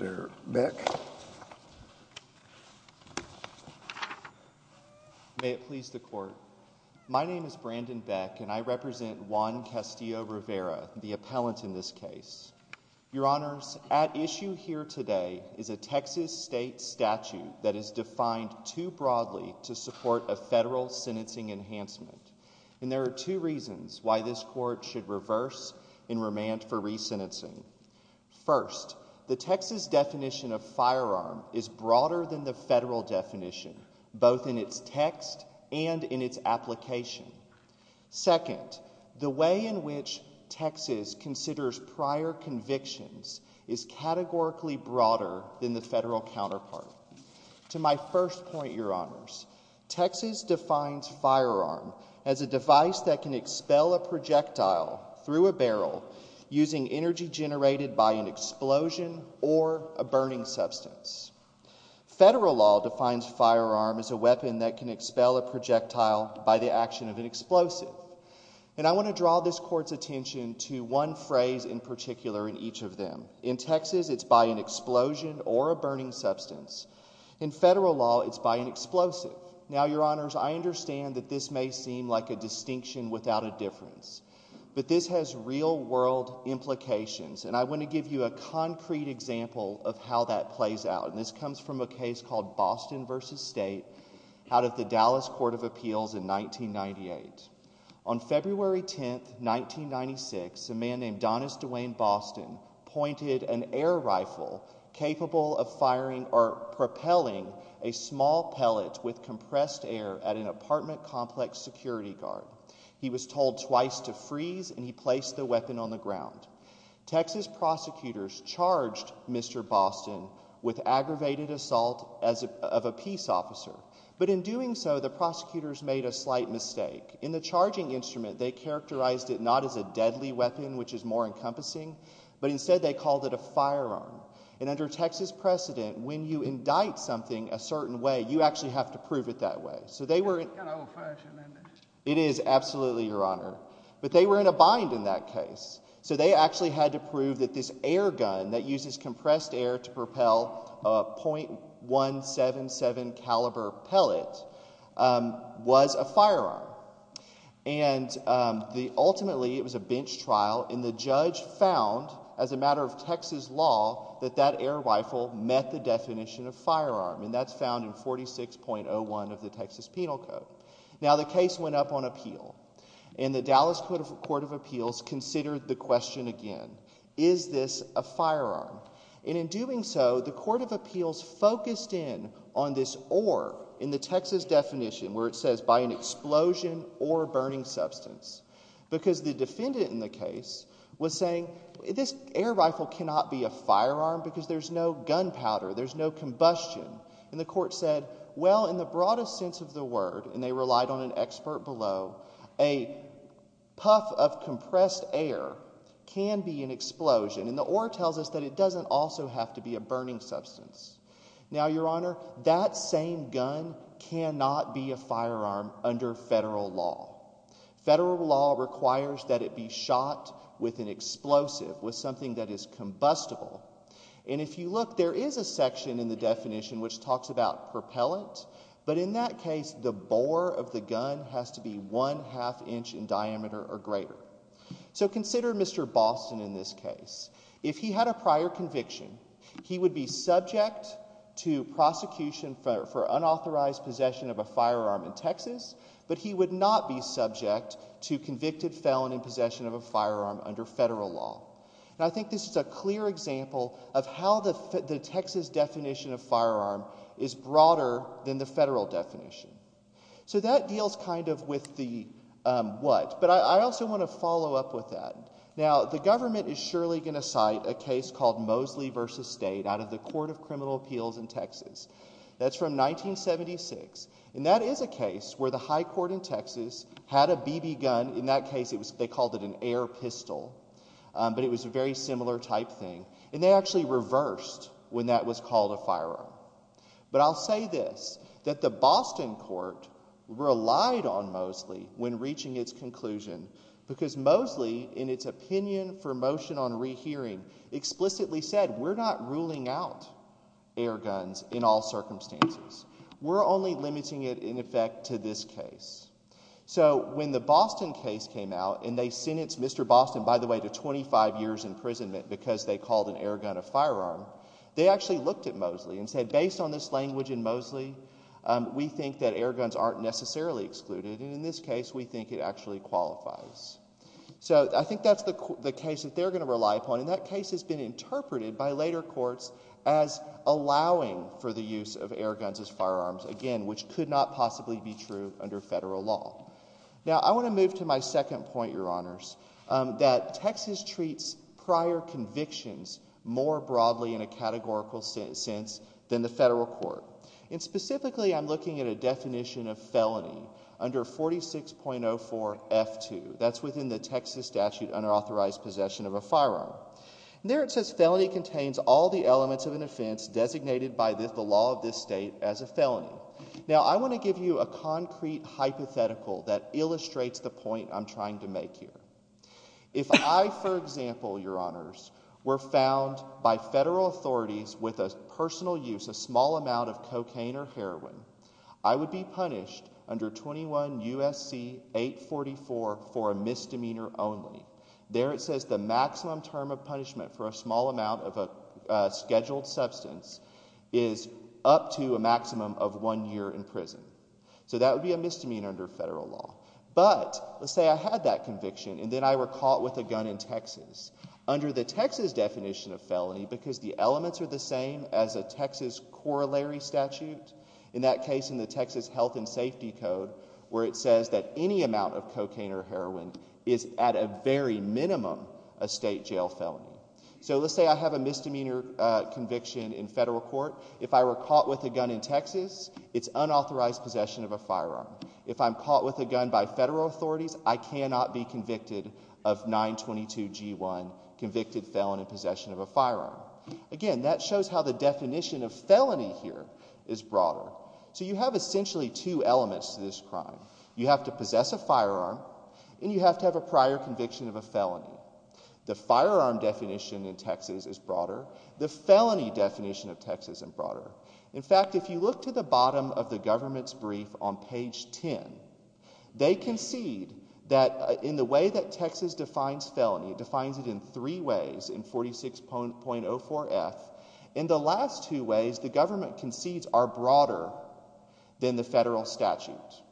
Your Honor, at issue here today is a Texas state statute that is defined too broadly to support a federal sentencing enhancement, and there are two reasons why this Court should reverse and remand for re-sentencing. First, the Texas definition of firearm is broader than the federal definition, both in its text and in its application. Second, the way in which Texas considers prior convictions is categorically broader than the federal counterpart. To my first point, Your Honors, Texas defines firearm as a device that can expel a projectile through a barrel using energy generated by an explosion or a burning substance. Federal law defines firearm as a weapon that can expel a projectile by the action of an explosive, and I want to draw this Court's attention to one phrase in particular in each of them. In Texas, it's by an explosion or a burning substance. In federal law, it's by an explosive. Now Your Honors, I understand that this may seem like a distinction without a difference, but this has real-world implications, and I want to give you a concrete example of how that plays out, and this comes from a case called Boston v. State out of the Dallas Court of Appeals in 1998. On February 10, 1996, a man named Donnis DeWayne Boston pointed an air rifle capable of firing or propelling a small pellet with compressed air at an apartment complex security guard. He was told twice to freeze, and he placed the weapon on the ground. Texas prosecutors charged Mr. Boston with aggravated assault of a peace officer, but in doing so, the prosecutors made a slight mistake. In the charging instrument, they characterized it not as a deadly weapon, which is more encompassing, but instead they called it a firearm, and under Texas precedent, when you indict something a certain way, you actually have to prove it that way. So they were... It's kind of old-fashioned, isn't it? It is, absolutely, Your Honor, but they were in a bind in that case, so they actually had to prove that this air gun that uses compressed air to propel a .177 caliber pellet was a firearm, and ultimately it was a bench trial, and the judge found, as a matter of Texas law, that that air rifle met the definition of firearm, and that's found in 46.01 of the Texas Penal Code. Now, the case went up on appeal, and the Dallas Court of Appeals considered the question again, is this a firearm, and in doing so, the Court of Appeals focused in on this or in the Texas definition where it says, by an explosion or burning substance, because the defendant in the case was saying, this air rifle cannot be a firearm because there's no gunpowder, there's no combustion, and the court said, well, in the broadest sense of the word, and they relied on an expert below, a puff of compressed air can be an explosion, and the or tells us that it doesn't also have to be a burning substance. Now, Your Honor, that same gun cannot be a firearm under federal law. Federal law requires that it be shot with an explosive, with something that is combustible, and if you look, there is a section in the definition which talks about propellant, but in that case, the bore of the gun has to be one-half inch in diameter or greater. So consider Mr. Boston in this case. If he had a prior conviction, he would be subject to prosecution for unauthorized possession of a firearm in Texas, but he would not be subject to convicted felon in possession of a firearm under federal law, and I think this is a clear example of how the Texas definition of firearm is broader than the federal definition. So that deals kind of with the what, but I also want to follow up with that. Now, the government is surely going to cite a case called Mosley v. State out of the Court of Criminal Appeals in Texas. That's from 1976, and that is a case where the high court in Texas had a BB gun. In that case, they called it an air pistol, but it was a very similar type thing, and they actually reversed when that was called a firearm, but I'll say this, that the Boston court relied on Mosley when reaching its conclusion because Mosley, in its opinion for motion on rehearing, explicitly said, we're not ruling out air guns in all circumstances. We're only limiting it, in effect, to this case. So when the Boston case came out and they sentenced Mr. Boston, by the way, to 25 years imprisonment because they called an air gun a firearm, they actually looked at Mosley and said, based on this language in Mosley, we think that air guns aren't necessarily excluded, and in this case, we think it actually qualifies. So I think that's the case that they're going to rely upon, and that case has been interpreted by later courts as allowing for the use of air guns as firearms, again, which could not possibly be true under federal law. Now, I want to move to my second point, Your Honors, that Texas treats prior convictions more broadly in a categorical sense than the federal court, and specifically, I'm looking at a definition of felony under 46.04F2. That's within the Texas statute, unauthorized possession of a firearm, and there it says felony contains all the elements of an offense designated by the law of this state as a felony. Now, I want to give you a concrete hypothetical that illustrates the point I'm trying to make here. If I, for example, Your Honors, were found by federal authorities with a personal use, a small amount of cocaine or heroin, I would be punished under 21 U.S.C. 844 for a misdemeanor only. There, it says the maximum term of punishment for a small amount of a scheduled substance is up to a maximum of one year in prison. So that would be a misdemeanor under federal law. But let's say I had that conviction, and then I were caught with a gun in Texas. Under the Texas definition of felony, because the elements are the same as a Texas corollary statute, in that case, in the Texas Health and Safety Code, where it says that any amount of cocaine or heroin is, at a very minimum, a state jail felony. So let's say I have a misdemeanor conviction in federal court. If I were caught with a gun in Texas, it's unauthorized possession of a firearm. If I'm caught with a gun by federal authorities, I cannot be convicted of 922 G1, convicted felon in possession of a firearm. Again, that shows how the definition of felony here is broader. So you have essentially two elements to this crime. You have to possess a firearm, and you have to have a prior conviction of a felony. The firearm definition in Texas is broader. The felony definition of Texas is broader. In fact, if you look to the bottom of the government's brief on page 10, they concede that in the way that Texas defines felony, it defines it in three ways in 46.04F. In the last two ways, the government concedes are broader than the federal statute.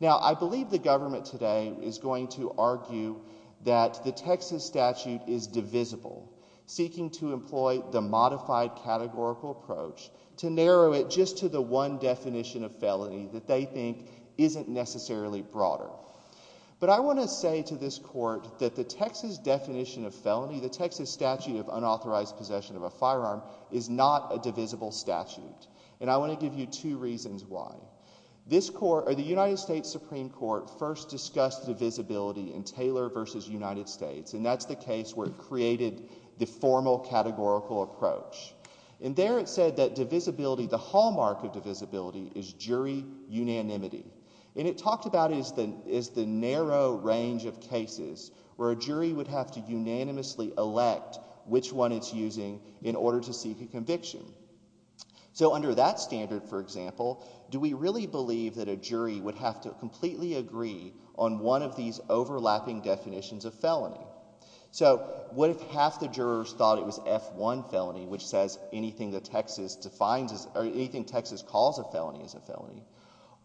Now, I believe the government today is going to argue that the Texas statute is divisible, seeking to employ the modified categorical approach to narrow it just to the one definition of felony that they think isn't necessarily broader. But I want to say to this court that the Texas definition of felony, the Texas statute of unauthorized possession of a firearm, is not a divisible statute. And I want to give you two reasons why. This court, or the United States Supreme Court, first discussed divisibility in Taylor versus United States. And that's the case where it created the formal categorical approach. And there it said that divisibility, the hallmark of divisibility, is jury unanimity. And it talked about it as the narrow range of cases where a jury would have to unanimously elect which one it's using in order to seek a conviction. So under that standard, for example, do we really believe that a jury would have to completely agree on one of these overlapping definitions of felony? So what if half the jurors thought it was F-1 felony, which says anything Texas calls a felony is a felony?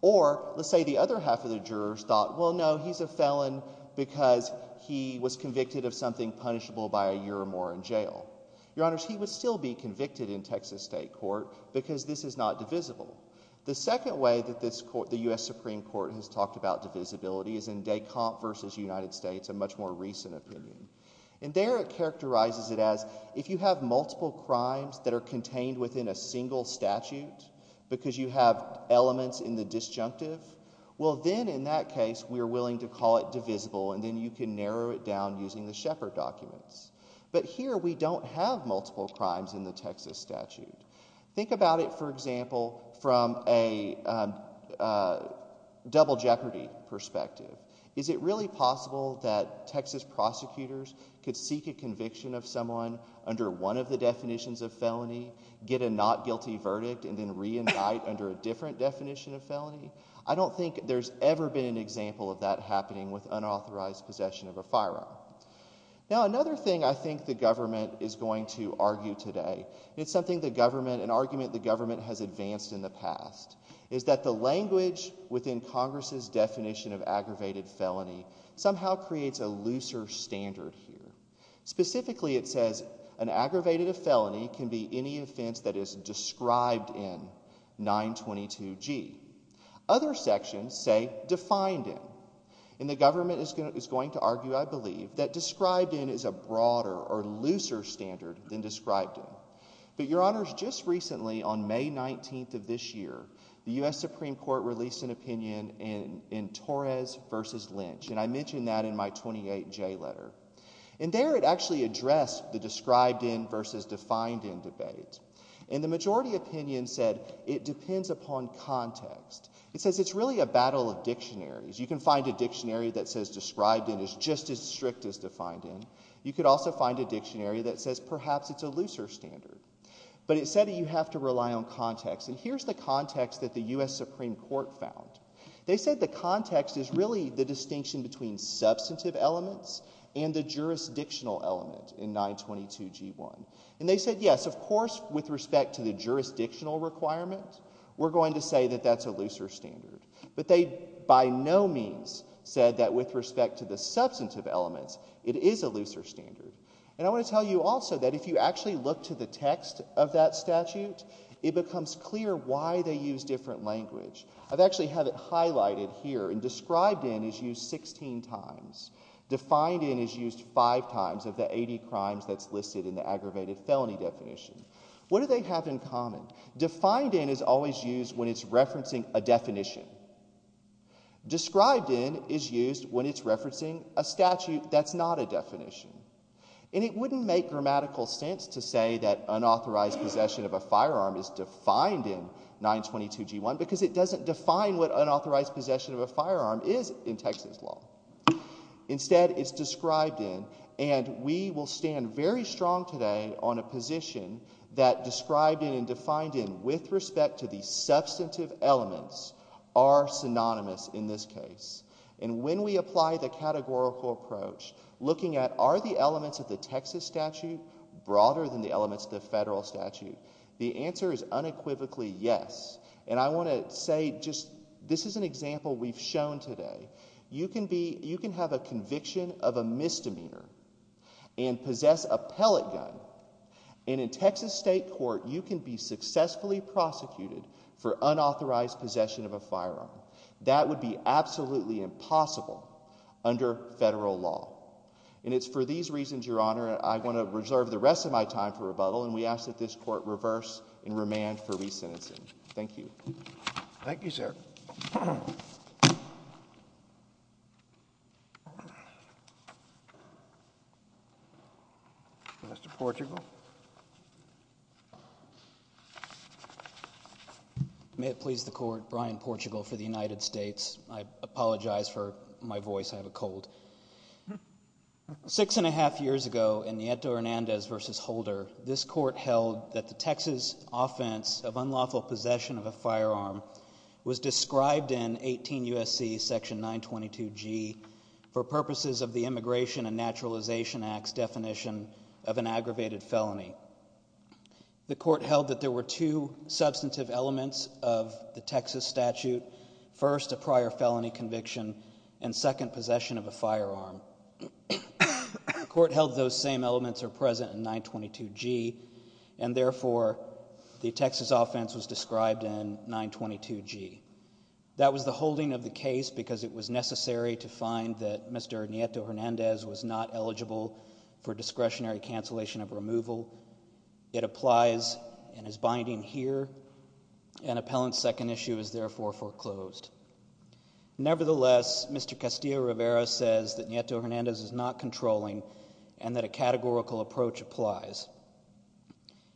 Or let's say the other half of the jurors thought, well, no, he's a felon because he was convicted of something punishable by a year or more in jail. Your Honors, he would still be convicted in Texas state court because this is not divisible. The second way that this court, the U.S. Supreme Court, has talked about divisibility is in Descamps versus United States, a much more recent opinion. And there it characterizes it as, if you have multiple crimes that are contained within a single statute because you have elements in the disjunctive, well, then in that case we are willing to call it divisible, and then you can narrow it down using the Shepard documents. But here we don't have multiple crimes in the Texas statute. Think about it, for example, from a double jeopardy perspective. Is it really possible that Texas prosecutors could seek a conviction of someone under one of the definitions of felony, get a not guilty verdict, and then reunite under a different definition of felony? I don't think there's ever been an example of that happening with unauthorized possession of a firearm. Now, another thing I think the government is going to argue today, it's something the government, an argument the government has advanced in the past, is that the language within Congress's definition of aggravated felony somehow creates a looser standard here. Specifically, it says an aggravated felony can be any offense that is described in 922G. Other sections say defined in, and the government is going to argue, I believe, that described in is a broader or looser standard than described in. But, Your Honors, just recently on May 19th of this year, the U.S. Supreme Court released an opinion in Torres v. Lynch, and I mentioned that in my 28J letter. And there it actually addressed the described in versus defined in debate. And the majority opinion said it depends upon context. It says it's really a battle of dictionaries. You can find a dictionary that says described in is just as strict as defined in. You could also find a dictionary that says perhaps it's a looser standard. But it said that you have to rely on context, and here's the context that the U.S. Supreme Court found. They said the context is really the distinction between substantive elements and the jurisdictional element in 922G1. And they said, yes, of course, with respect to the jurisdictional requirement, we're going to say that that's a looser standard. But they by no means said that with respect to the substantive elements, it is a looser standard. And I want to tell you also that if you actually look to the text of that statute, it becomes clear why they use different language. I've actually had it highlighted here, and described in is used 16 times. Defined in is used five times of the 80 crimes that's listed in the aggravated felony definition. What do they have in common? Defined in is always used when it's referencing a definition. Described in is used when it's referencing a statute that's not a definition. And it wouldn't make grammatical sense to say that unauthorized possession of a firearm is defined in 922G1 because it doesn't define what unauthorized possession of a firearm is in Texas law. Instead, it's described in, and we will stand very strong today on a position that described in and defined in with respect to the substantive elements are synonymous in this case. And when we apply the categorical approach, looking at are the elements of the Texas statute broader than the elements of the federal statute, the answer is unequivocally yes. And I want to say just, this is an example we've shown today. You can be, you can have a conviction of a misdemeanor and possess a pellet gun and in Texas state court you can be successfully prosecuted for unauthorized possession of a firearm. That would be absolutely impossible under federal law. And it's for these reasons, your honor, I want to reserve the rest of my time for rebuttal and we ask that this court reverse and remand for re-sentencing. Thank you. Thank you, sir. Mr. Portugal. May it please the court, Brian Portugal for the United States. I apologize for my voice, I have a cold. Six and a half years ago in Nieto Hernandez v. Holder, this court held that the Texas offense of unlawful possession of a firearm was described in 18 U.S.C. section 922G for purposes of the Immigration and Naturalization Act's definition of an aggravated felony. The court held that there were two substantive elements of the Texas statute, first a prior felony conviction and second possession of a firearm. The court held those same elements are present in 922G and therefore the Texas offense was described in 922G. That was the holding of the case because it was necessary to find that Mr. Nieto Hernandez was not eligible for discretionary cancellation of removal. It applies and is binding here and appellant's second issue is therefore foreclosed. Nevertheless, Mr. Castillo-Rivera says that Nieto Hernandez is not controlling and that a categorical approach applies.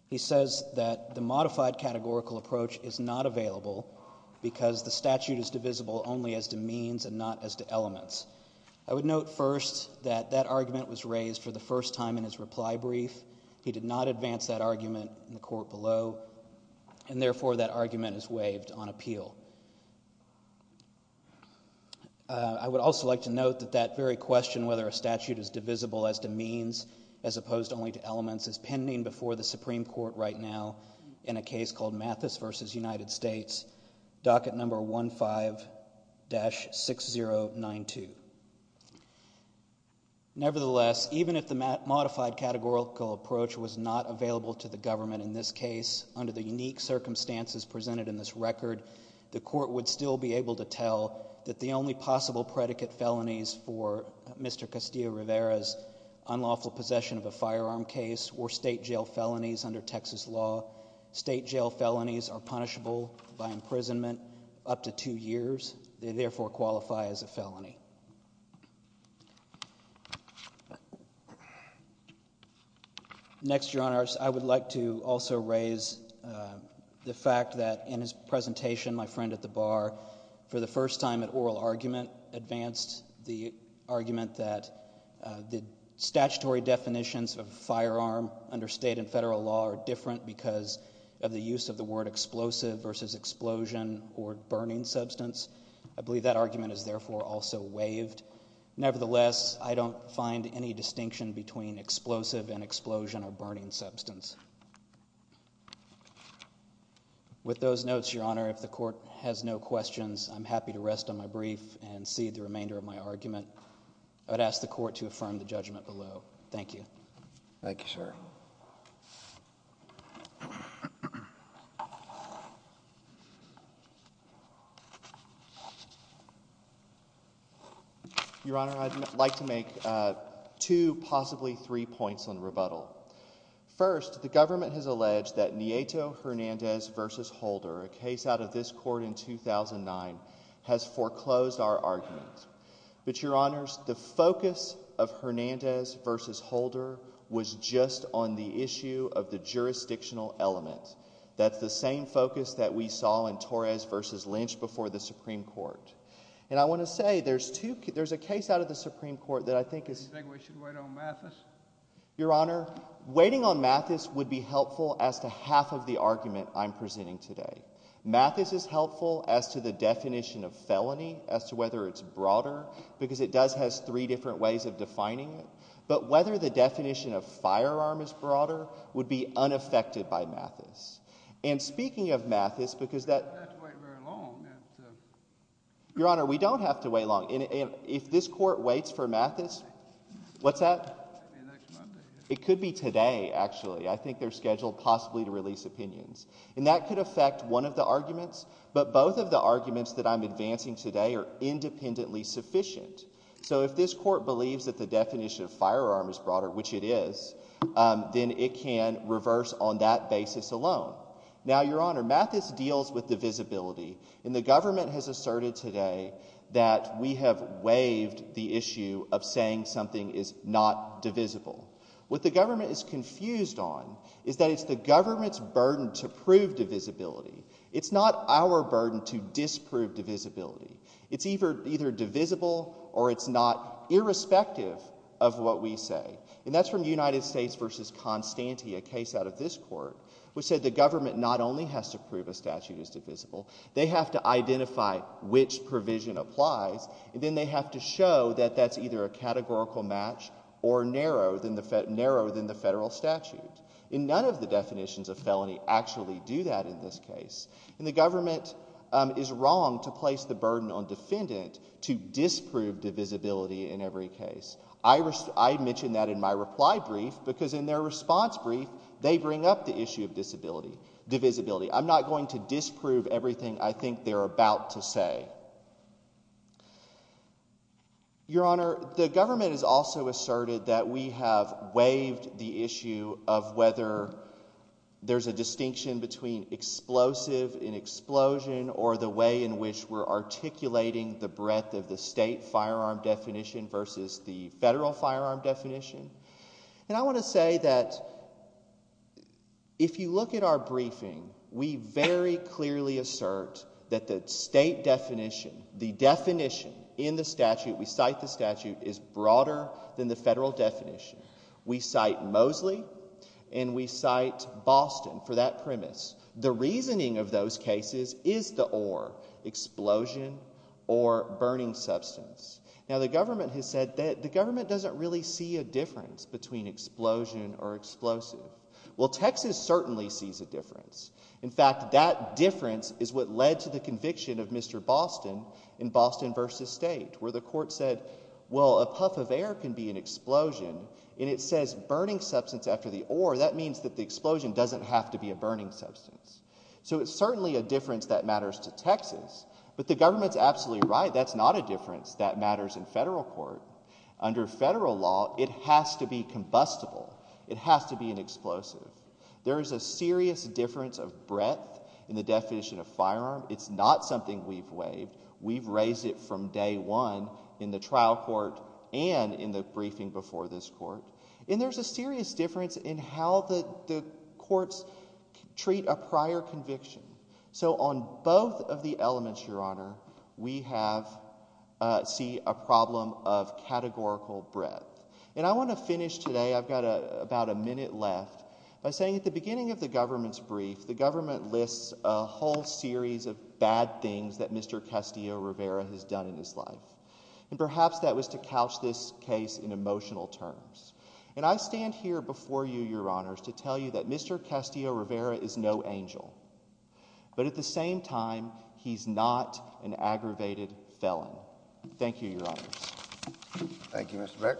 He says that the modified categorical approach is not available because the statute is divisible only as to means and not as to elements. I would note first that that argument was raised for the first time in his reply brief. He did not advance that argument in the court below and therefore that argument is waived on appeal. I would also like to note that that very question whether a statute is divisible as to means as opposed only to elements is pending before the Supreme Court right now in a case called Mathis v. United States, docket number 15-6092. Nevertheless, even if the modified categorical approach was not available to the government in this case under the unique circumstances presented in this record, the court would still be able to tell that the only possible predicate felonies for Mr. Castillo-Rivera's unlawful possession of a firearm case were state jail felonies under Texas law. State jail felonies are punishable by imprisonment up to two years. They therefore qualify as a felony. Next, Your Honors, I would like to also raise the fact that in his presentation my friend at the bar for the first time at oral argument advanced the argument that the statutory definitions of firearm under state and federal law are different because of the use of the word explosive versus explosion or burning substance. I believe that argument is therefore also waived. Nevertheless, I don't find any distinction between explosive and explosion or burning substance. With those notes, Your Honor, if the court has no questions, I'm happy to rest on my brief and cede the remainder of my argument. I would ask the court to affirm the judgment below. Thank you. Thank you, sir. Your Honor, I'd like to make two, possibly three points on rebuttal. First, the government has alleged that Nieto Hernandez versus Holder, a case out of this court in 2009, has foreclosed our argument. But, Your Honors, the focus of Hernandez versus Holder was just on the issue of the jurisdictional element. That's the same focus that we saw in Torres versus Lynch before the Supreme Court. And I want to say there's two, there's a case out of the Supreme Court that I think is, Your Honor, waiting on Mathis would be helpful as to half of the argument I'm presenting today. Mathis is helpful as to the definition of felony, as to whether it's broader, because it does has three different ways of defining it. But whether the definition of firearm is broader would be unaffected by Mathis. And speaking of Mathis, because that. Your Honor, we don't have to wait long. If this court waits for Mathis. What's that? It could be today, actually. I think they're scheduled possibly to release opinions. And that could affect one of the arguments. But both of the arguments that I'm advancing today are independently sufficient. So if this court believes that the definition of firearm is broader, which it is, then it can reverse on that basis alone. Now, Your Honor, Mathis deals with divisibility. And the government has asserted today that we have waived the issue of saying something is not divisible. What the government is confused on is that it's the government's burden to prove divisibility. It's not our burden to disprove divisibility. It's either divisible or it's not irrespective of what we say. And that's from United States versus Constante, a case out of this court, which said the government not only has to prove a statute is divisible, they have to identify which provision applies. And then they have to show that that's either a categorical match or narrower than the federal statute. And none of the definitions of felony actually do that in this case. And the government is wrong to place the burden on defendant to disprove divisibility in every case. I mentioned that in my reply brief because in their response brief, they bring up the issue of divisibility. I'm not going to disprove everything I think they're about to say. Your Honor, the government has also asserted that we have waived the issue of whether there's a distinction between explosive and explosion or the way in which we're articulating the breadth of the state firearm definition versus the federal firearm definition. And I want to say that if you look at our briefing, we very clearly assert that the state definition, the definition in the statute, we cite the statute is broader than the federal definition. We cite Mosley and we cite Boston for that premise. The reasoning of those cases is the or explosion or burning substance. Now, the government has said that the government doesn't really see a difference between explosion or explosive. Well, Texas certainly sees a difference. In fact, that difference is what led to the conviction of Mr. Boston in Boston versus state where the court said, well, a puff of air can be an explosion. And it says burning substance after the or that means that the explosion doesn't have to be a burning substance. So it's certainly a difference that matters to Texas. But the government's absolutely right. That's not a difference that matters in federal court. Under federal law, it has to be combustible. It has to be an explosive. There is a serious difference of breadth in the definition of firearm. It's not something we've waived. We've raised it from day one in the trial court and in the briefing before this court. And there's a serious difference in how the courts treat a prior conviction. So on both of the elements, your honor, we have see a problem of categorical breadth. And I want to finish today. I've got about a minute left by saying at the beginning of the government's brief, the government lists a whole series of bad things that Mr. Castillo Rivera has done in his life. And perhaps that was to couch this case in emotional terms. And I stand here before you, your honors, to tell you that Mr. Castillo Rivera is no angel. But at the same time, he's not an aggravated felon. Thank you, your honor. Thank you, Mr.